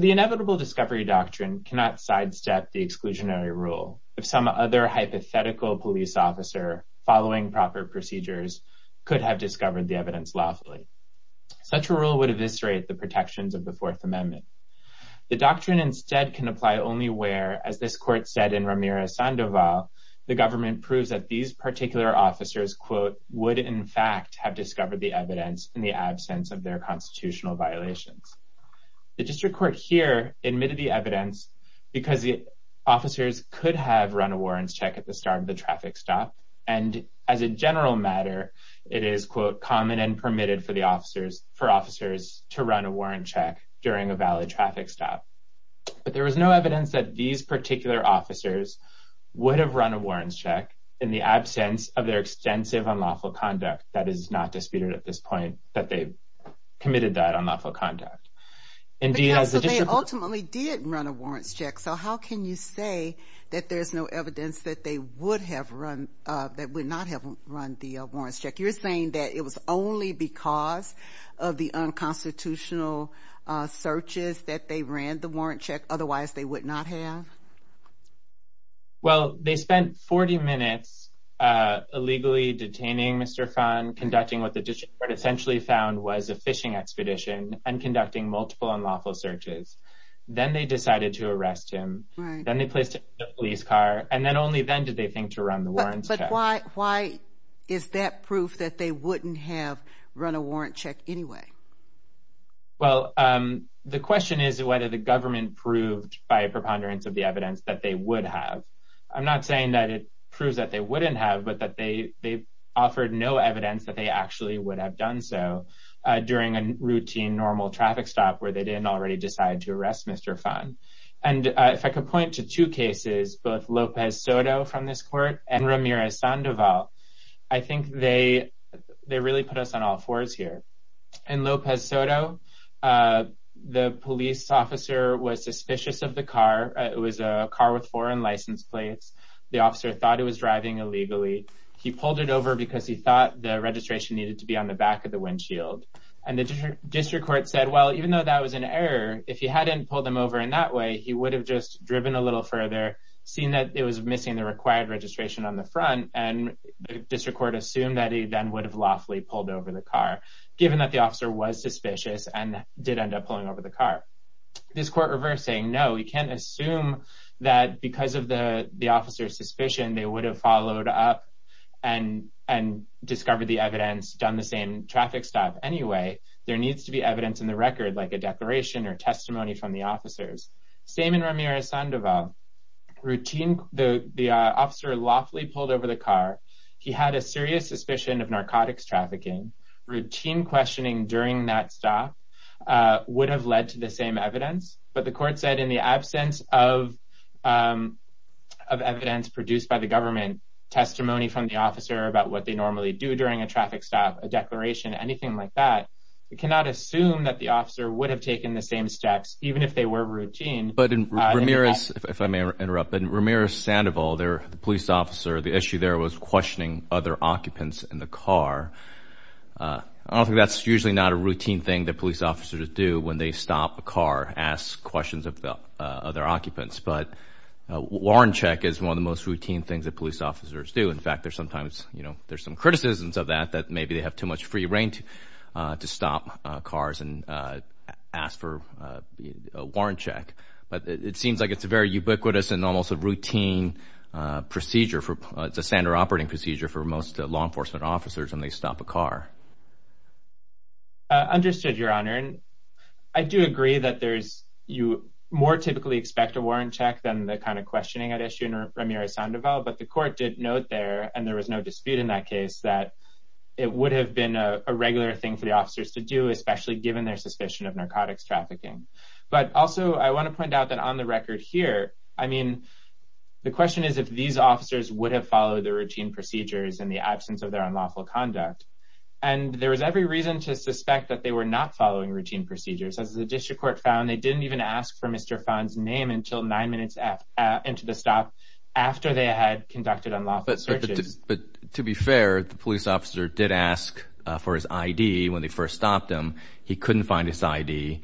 The Inevitable Discovery Doctrine cannot sidestep the exclusionary rule if some other hypothetical police officer, following proper procedures, could have discovered the evidence lawfully. Such a rule would eviscerate the protections of the Fourth Amendment. The doctrine instead can apply only where, as this Court said in Ramirez-Sandoval, the government proves that these particular officers, quote, would in fact have discovered the evidence in the absence of their constitutional violations. The District Court here admitted the evidence because the officers could have run a warrants check at the start of the traffic stop, and as a general matter, it is, quote, common and permitted for the officers, for officers to run a warrant check during a valid traffic stop. But there was no evidence that these particular officers would have run a warrants check in the absence of their extensive unlawful conduct. That is not disputed at this point, that they committed that unlawful conduct. And D, as the District Court- that they would have run, that would not have run the warrants check. You're saying that it was only because of the unconstitutional searches that they ran the warrants check, otherwise they would not have? Well, they spent 40 minutes illegally detaining Mr. Fahn, conducting what the District Court essentially found was a fishing expedition, and conducting multiple unlawful searches. Then they decided to arrest him. Right. Then they placed him in a police car, and then only then did they think to run the warrants check. But why is that proof that they wouldn't have run a warrants check anyway? Well, the question is whether the government proved by a preponderance of the evidence that they would have. I'm not saying that it proves that they wouldn't have, but that they offered no evidence that they actually would have done so during a routine, normal traffic stop where they didn't already decide to arrest Mr. Fahn. If I could point to two cases, both Lopez Soto from this court and Ramirez Sandoval, I think they really put us on all fours here. In Lopez Soto, the police officer was suspicious of the car. It was a car with foreign license plates. The officer thought it was driving illegally. He pulled it over because he thought the registration needed to be on the back of the windshield. The District Court said, well, even though that was an error, if he hadn't pulled them over in that way, he would have just driven a little further, seen that it was missing the required registration on the front, and the District Court assumed that he then would have lawfully pulled over the car, given that the officer was suspicious and did end up pulling over the car. This court reversed saying, no, we can't assume that because of the officer's suspicion, they would have followed up and discovered the evidence, done the same traffic stop anyway. There needs to be evidence in the record, like a declaration or testimony from the officers. Same in Ramirez Sandoval. The officer lawfully pulled over the car. He had a serious suspicion of narcotics trafficking. Routine questioning during that stop would have led to the same evidence, but the court said in the absence of evidence produced by the government, testimony from the officer about what they normally do during a traffic stop, a declaration, anything like that, we cannot assume that the officer would have taken the same steps, even if they were routine. But in Ramirez, if I may interrupt, in Ramirez Sandoval, the police officer, the issue there was questioning other occupants in the car. I don't think that's usually not a routine thing that police officers do when they stop a car, ask questions of the other occupants. But warrant check is one of the most routine things that police officers do. In fact, there's sometimes, you know, there's some criticisms of that, that maybe they have too much free reign to stop cars and ask for a warrant check. But it seems like it's a very ubiquitous and almost a routine procedure for, it's a standard operating procedure for most law enforcement officers when they stop a car. I understood, Your Honor, and I do agree that there's, you more typically expect a warrant check than the kind of questioning I'd issue in Ramirez Sandoval. But the court did note there, and there was no dispute in that case, that it would have been a regular thing for the officers to do, especially given their suspicion of narcotics trafficking. But also, I want to point out that on the record here, I mean, the question is if these officers would have followed the routine procedures in the absence of their unlawful conduct. And there was every reason to suspect that they were not following routine procedures. But to be fair, the police officer did ask for his I.D. when they first stopped him. He couldn't find his I.D.,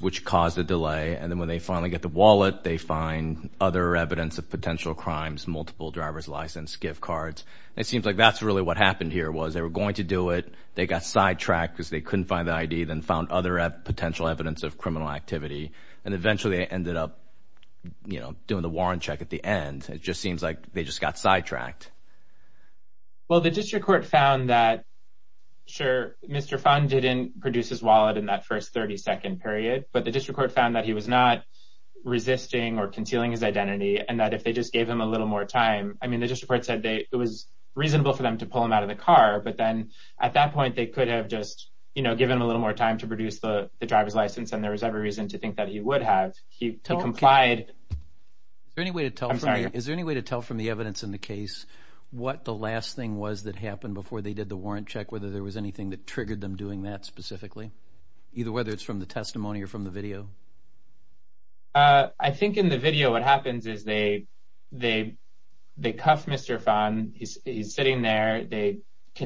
which caused a delay. And then when they finally get the wallet, they find other evidence of potential crimes, multiple driver's license, gift cards. It seems like that's really what happened here, was they were going to do it. They got sidetracked because they couldn't find the I.D., then found other potential evidence of criminal activity. And eventually, they ended up, you know, doing the warrant check at the end. It just seems like they just got sidetracked. Well, the district court found that, sure, Mr. Phan didn't produce his wallet in that first 30 second period. But the district court found that he was not resisting or concealing his identity and that if they just gave him a little more time, I mean, the district court said it was reasonable for them to pull him out of the car. But then at that point, they could have just, you know, given him a little more time to produce the driver's license. And there was every reason to think that he would have. He complied. Is there any way to tell me is there any way to tell from the evidence in the case what the last thing was that happened before they did the warrant check, whether there was anything that triggered them doing that specifically, either whether it's from the testimony or from the video? I think in the video, what happens is they they they cuffed Mr. Phan. He's sitting there. They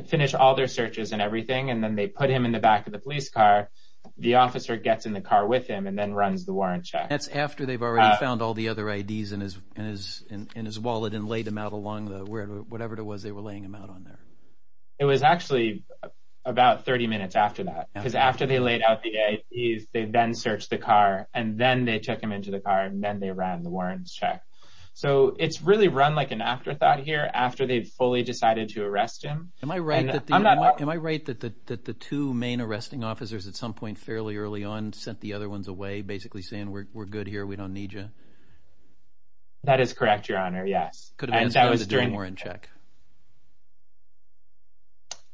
finish all their searches and everything, and then they put him in the back of the police car. The officer gets in the car with him and then runs the warrant check. That's after they've already found all the other IDs in his in his in his wallet and laid him out along the whatever it was they were laying him out on there. It was actually about 30 minutes after that, because after they laid out the IDs, they then searched the car and then they took him into the car and then they ran the warrants check. So it's really run like an afterthought here after they've fully decided to arrest him. Am I right? Am I right that the two main arresting officers at some point fairly early on sent the good here? We don't need you. That is correct, your honor. Yes, that was during warrant check.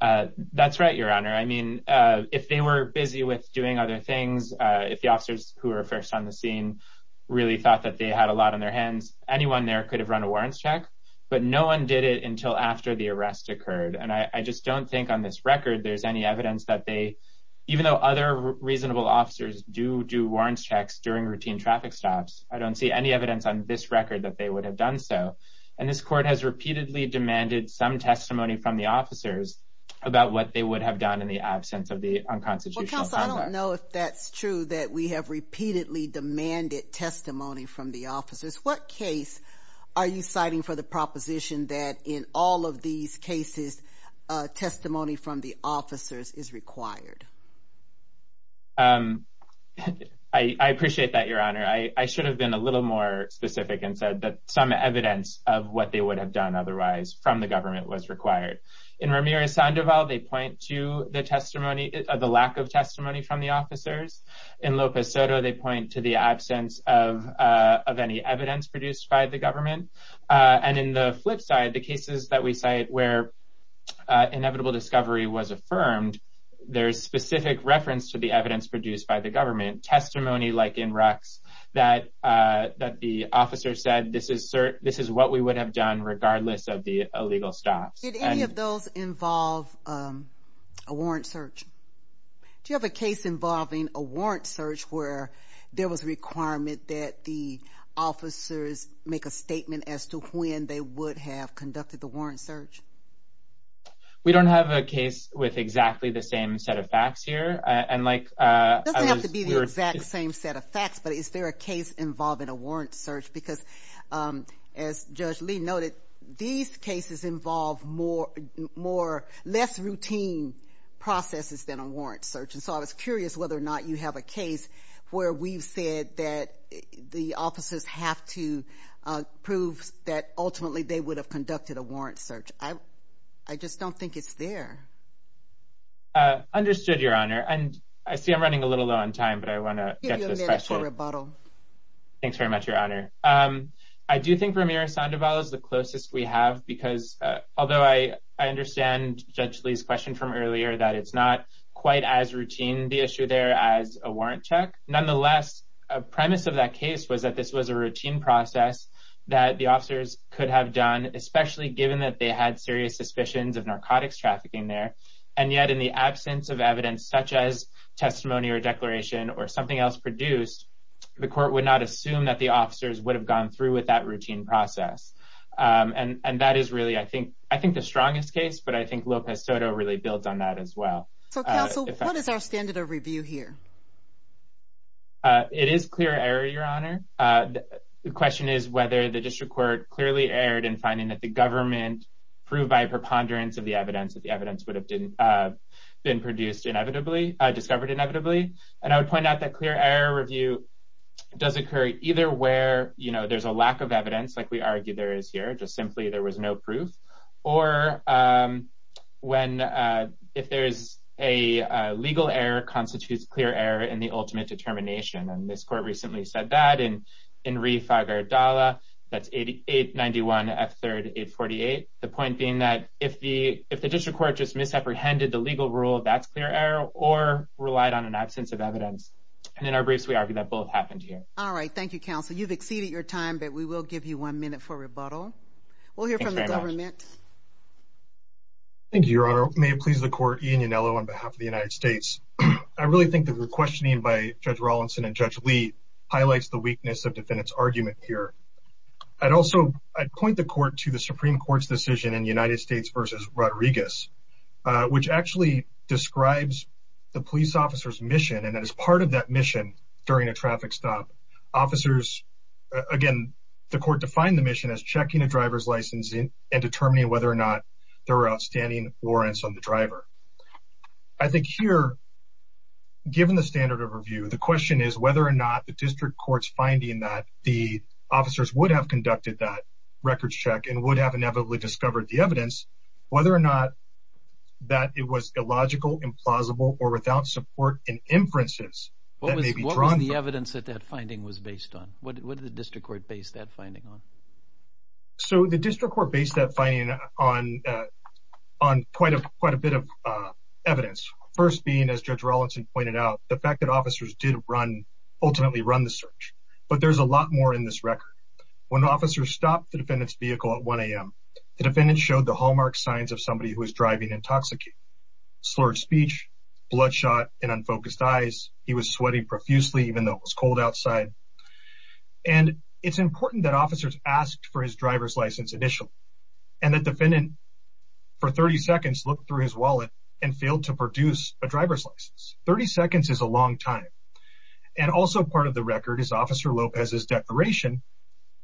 That's right, your honor. I mean, if they were busy with doing other things, if the officers who are first on the scene really thought that they had a lot on their hands, anyone there could have run a warrants check, but no one did it until after the arrest occurred. And I just don't think on this record there's any evidence that they, even though other reasonable officers do do warrants checks during routine traffic stops, I don't see any evidence on this record that they would have done so. And this court has repeatedly demanded some testimony from the officers about what they would have done in the absence of the unconstitutional conduct. I don't know if that's true, that we have repeatedly demanded testimony from the officers. What case are you citing for the proposition that in all of these cases, testimony from the officers is required? I appreciate that, your honor. I should have been a little more specific and said that some evidence of what they would have done otherwise from the government was required. In Ramirez-Sandoval, they point to the testimony of the lack of testimony from the officers. In Lopez Soto, they point to the absence of of any evidence produced by the government. And in the flip side, the cases that we cite where inevitable discovery was specific reference to the evidence produced by the government testimony, like in Rucks, that that the officer said this is what we would have done regardless of the illegal stops. Did any of those involve a warrant search? Do you have a case involving a warrant search where there was a requirement that the officers make a statement as to when they would have conducted the warrant search? We don't have a case with exactly the same set of facts here and like. It doesn't have to be the exact same set of facts, but is there a case involving a warrant search? Because as Judge Lee noted, these cases involve more more less routine processes than a warrant search. And so I was curious whether or not you have a case where we've said that the officers have to prove that ultimately they would have conducted a warrant search. I I just don't think it's there. Understood, Your Honor, and I see I'm running a little low on time, but I want to get to the special rebuttal. Thanks very much, Your Honor. I do think Ramirez-Sandoval is the closest we have, because although I understand Judge Lee's question from earlier, that it's not quite as routine the issue there as a warrant check. Nonetheless, a premise of that case was that this was a routine process that the district court had serious suspicions of narcotics trafficking there. And yet in the absence of evidence such as testimony or declaration or something else produced, the court would not assume that the officers would have gone through with that routine process. And that is really, I think, I think the strongest case. But I think Lopez Soto really builds on that as well. So counsel, what is our standard of review here? It is clear error, Your Honor. The question is whether the district court clearly erred in finding that the government proved by a preponderance of the evidence that the evidence would have been produced inevitably, discovered inevitably. And I would point out that clear error review does occur either where, you know, there's a lack of evidence, like we argued there is here, just simply there was no proof, or when if there is a legal error constitutes clear error in the ultimate determination. And this court recently said that in Reef Agardala, that's 891 F3rd 848. The point being that if the if the district court just misapprehended the legal rule, that's clear error or relied on an absence of evidence. And in our briefs, we argue that both happened here. All right. Thank you, counsel. You've exceeded your time, but we will give you one minute for rebuttal. We'll hear from the government. Thank you, Your Honor. May it please the court, Ian Yanello on behalf of the United States. I really think that the questioning by Judge Rawlinson and Judge Lee highlights the weakness of defendant's argument here. I'd also I'd point the court to the Supreme Court's decision in United States versus Rodriguez, which actually describes the police officer's mission. And as part of that mission during a traffic stop, officers, again, the court defined the mission as checking a driver's license and determining whether or not there are outstanding warrants on the driver. I think here, given the standard of review, the question is whether or not the district court's finding that the officers would have conducted that record check and would have inevitably discovered the evidence, whether or not that it was illogical, implausible or without support and inferences. What was the evidence that that finding was based on? What did the district court base that finding on? So the district court based that finding on on quite a quite a bit of evidence, first being, as Judge Rawlinson pointed out, the fact that officers did run ultimately run the search. But there's a lot more in this record. When officers stopped the defendant's vehicle at 1 a.m., the defendant showed the hallmark signs of somebody who was driving intoxicated, slurred speech, bloodshot and unfocused eyes. He was sweating profusely, even though it was cold outside. And it's important that officers asked for his driver's license initially and that defendant for 30 seconds looked through his wallet and failed to produce a driver's license. 30 seconds is a long time. And also part of the record is Officer Lopez's declaration,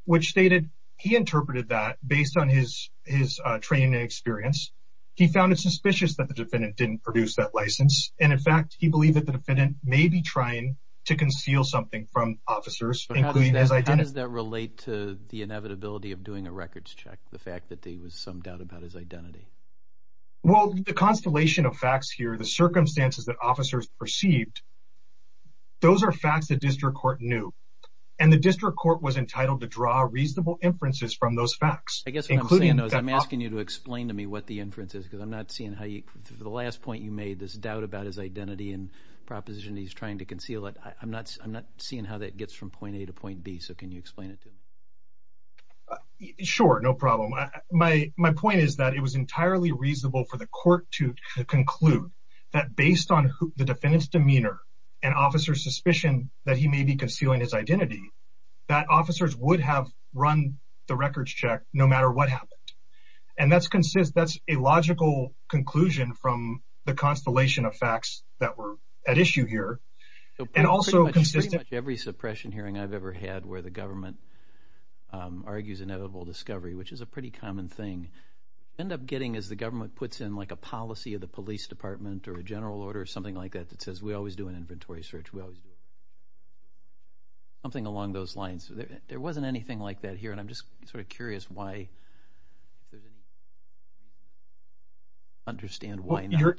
which stated he interpreted that based on his his training and experience. He found it suspicious that the defendant didn't produce that license. And in fact, he believed that the defendant may be trying to conceal something from officers. But how does that relate to the inevitability of doing a records check? The fact that there was some doubt about his identity? Well, the constellation of facts here, the circumstances that officers perceived, those are facts that district court knew. And the district court was entitled to draw reasonable inferences from those facts. I guess what I'm saying is I'm asking you to explain to me what the inference is, because I'm not seeing how the last point you made this doubt about his identity and proposition. He's trying to conceal it. I'm not I'm not seeing how that gets from point A to point B. So can you explain it to me? Sure. No problem. My my point is that it was entirely reasonable for the court to conclude that based on the defendant's demeanor and officers suspicion that he may be concealing his identity, that officers would have run the records check no matter what happened. And that's consistent. That's a logical conclusion from the constellation of facts that were at issue here. And also consistent. Every suppression hearing I've ever had where the government argues inevitable discovery, which is a pretty common thing, end up getting as the government puts in, like, a policy of the police department or a general order or something like that that says we always do an inventory search. We always do something along those lines. There wasn't anything like that here. And I'm just sort of curious why. Understand why you're.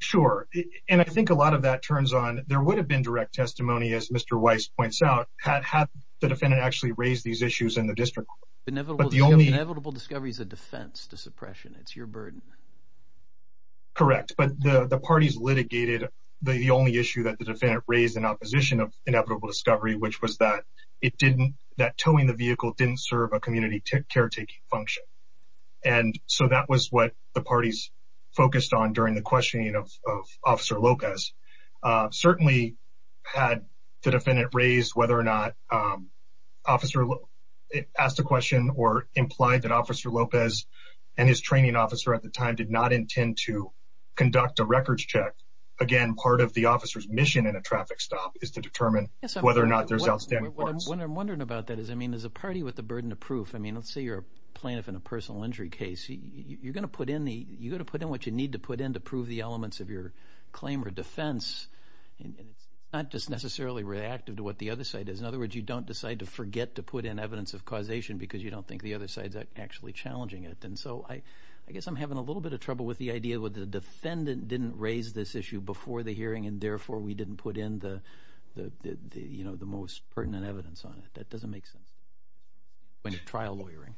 Sure. And I think a lot of that turns on. There would have been direct testimony, as Mr. Weiss points out, had the defendant actually raised these issues in the district. But the only inevitable discovery is a defense to suppression. It's your burden. Correct. But the parties litigated the only issue that the defendant raised in opposition of inevitable discovery, which was that it didn't that towing the vehicle didn't serve a community care taking function. And so that was what the parties focused on during the questioning of Officer Lopez. Certainly had the defendant raised whether or not officer asked a question or implied that Officer Lopez and his training officer at the time did not intend to conduct a records check. Again, part of the officer's mission in a traffic stop is to determine whether or not there's outstanding. What I'm wondering about that is, I mean, as a party with the burden of proof, I mean, let's say you're a plaintiff in a personal injury case. You're going to put in the you're going to put in what you need to put in to prove the And it's not just necessarily reactive to what the other side is. In other words, you don't decide to forget to put in evidence of causation because you don't think the other side's actually challenging it. And so I I guess I'm having a little bit of trouble with the idea with the defendant didn't raise this issue before the hearing, and therefore we didn't put in the you know, the most pertinent evidence on it. That doesn't make sense. When a trial lawyering.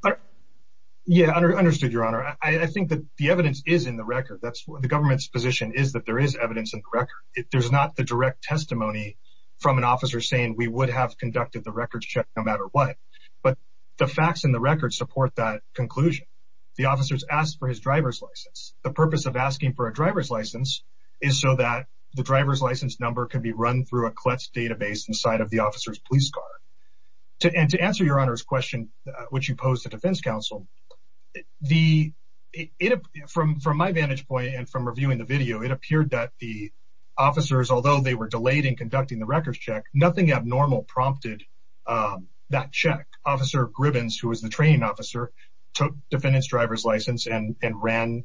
Yeah, I understood your honor. I think that the evidence is in the record. That's the government's position is that there is evidence in the record. There's not the direct testimony from an officer saying we would have conducted the records check, no matter what. But the facts in the record support that conclusion. The officers asked for his driver's license. The purpose of asking for a driver's license is so that the driver's license number can be run through a collect database inside of the officer's police car. And to answer your honor's question, which you pose the defense counsel. The from from my vantage point and from reviewing the video, it appeared that the officers, although they were delayed in conducting the records check, nothing abnormal prompted that check. Officer Gribbons, who was the training officer, took defendant's driver's license and ran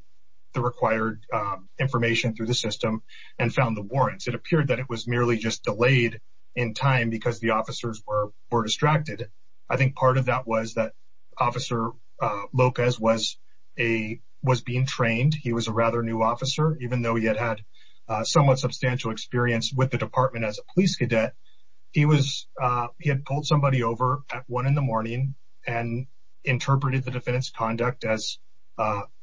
the required information through the system and found the warrants. It appeared that it was merely just delayed in time because the officers were distracted. I think part of that was that Officer Lopez was a was being trained. He was a rather new officer, even though he had had somewhat substantial experience with the department as a police cadet. He was he had pulled somebody over at one in the morning and interpreted the defendant's conduct as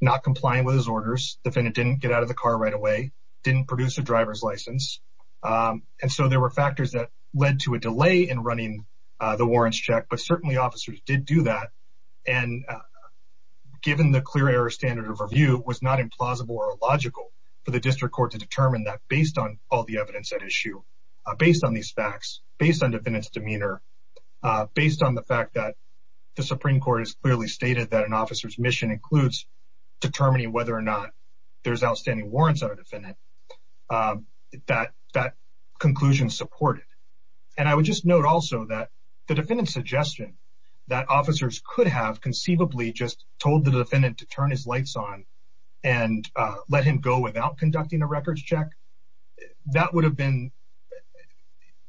not complying with his orders. The defendant didn't get out of the car right away, didn't produce a driver's license. And so there were factors that led to a delay in running the warrants check. But certainly officers did do that. And given the clear error standard of review, it was not implausible or logical for the district court to determine that based on all the evidence at issue, based on these facts, based on defendants demeanor, based on the fact that the Supreme Court has clearly stated that an officer's mission includes determining whether or not there's outstanding warrants on a defendant, that that conclusion supported. And I would just note also that the defendant's suggestion that officers could have conceivably just told the defendant to turn his lights on and let him go without conducting a records check, that would have been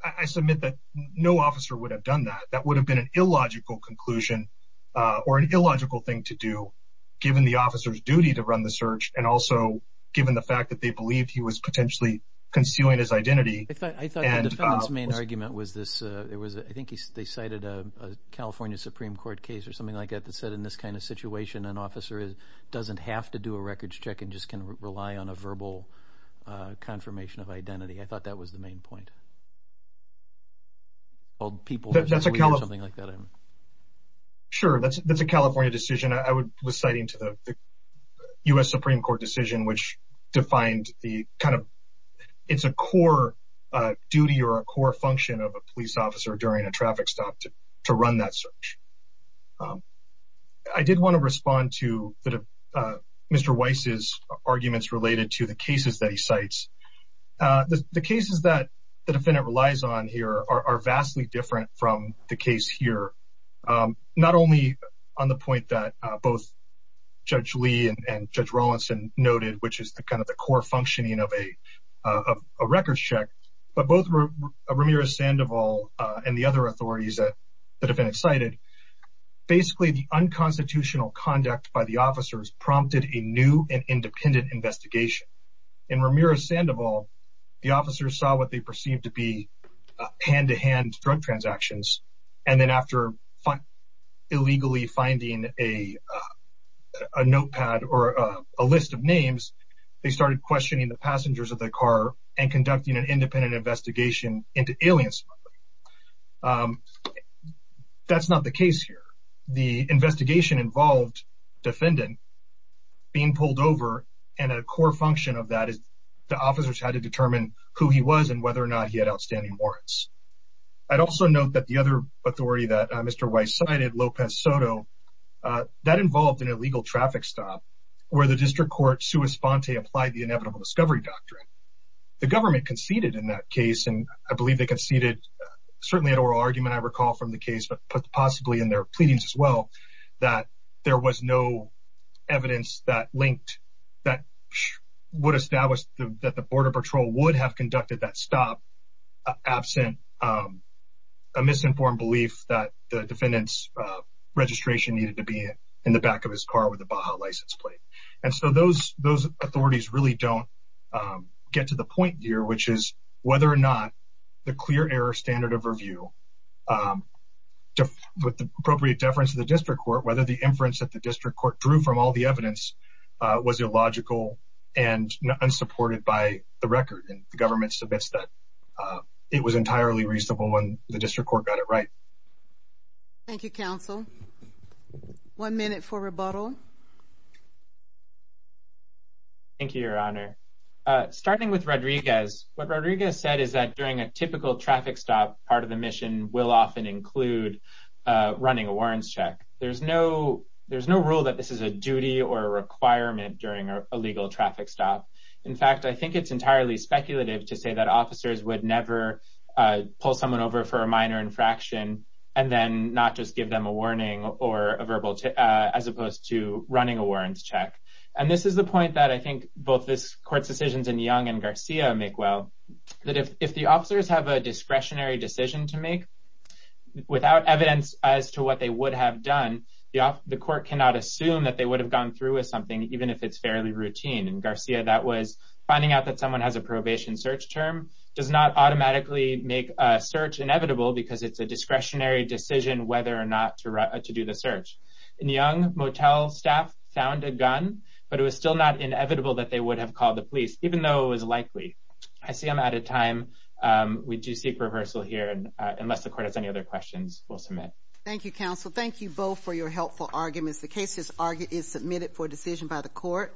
I submit that no officer would have done that. That would have been an illogical conclusion or an illogical thing to do, given the officer's duty to run the search and also given the fact that they believed he was potentially concealing his identity. I thought the defendant's main argument was this. It was, I think they cited a California Supreme Court case or something like that that said in this kind of situation, an officer doesn't have to do a records check and just can rely on a verbal confirmation of identity. I thought that was the main point. Sure, that's a California decision. I was citing to the US Supreme Court decision, which defined the kind of, it's a core duty or a core function of a police officer during a traffic stop to run that search. I did want to respond to Mr. Weiss's arguments related to the cases that he cites. The cases that the defendant relies on here are vastly different from the case here, not only on the point that both Judge Lee and Judge Rawlinson noted, which is the kind of core functioning of a records check, but both Ramirez-Sandoval and the other authorities that the defendant cited. Basically, the unconstitutional conduct by the officers prompted a new and independent investigation. In Ramirez-Sandoval, the officers saw what they perceived to be hand-to-hand drug transactions and then after illegally finding a notepad or a list of names, they started questioning the passengers of the car and conducting an independent investigation into alien smuggling. That's not the case here. The investigation involved the defendant being pulled over and a core function of that is the officers had to determine who he was and whether or not he had outstanding warrants. I'd also note that the other authority that Mr. Weiss cited, Lopez Soto, that involved an illegal traffic stop where the district court sui sponte applied the inevitable discovery doctrine. The government conceded in that case, and I believe they conceded certainly an oral argument I recall from the case, but possibly in their pleadings as well, that there was no evidence linked that would establish that the border patrol would have conducted that stop absent a misinformed belief that the defendant's registration needed to be in the back of his car with a Baja license plate. Those authorities really don't get to the point here, which is whether or not the clear error standard of review with the appropriate deference of the district court, whether the was illogical and unsupported by the record. And the government submits that it was entirely reasonable when the district court got it right. Thank you, counsel. One minute for rebuttal. Thank you, Your Honor. Starting with Rodriguez, what Rodriguez said is that during a typical traffic stop, part of the mission will often include running a warrants check. There's no rule that this is a duty or a requirement during a legal traffic stop. In fact, I think it's entirely speculative to say that officers would never pull someone over for a minor infraction and then not just give them a warning or a verbal, as opposed to running a warrants check. And this is the point that I think both this court's decisions in Young and Garcia make well, that if the officers have a discretionary decision to make without evidence as to what they would have done, the court cannot assume that they would have gone through with something, even if it's fairly routine. In Garcia, that was finding out that someone has a probation search term does not automatically make a search inevitable because it's a discretionary decision whether or not to do the search. In Young, motel staff found a gun, but it was still not inevitable that they would have called the police, even though it was likely. I see I'm out of time. We do seek reversal here. And unless the court has any other questions, we'll submit. Thank you, counsel. Thank you both for your helpful arguments. The case is submitted for decision by the court.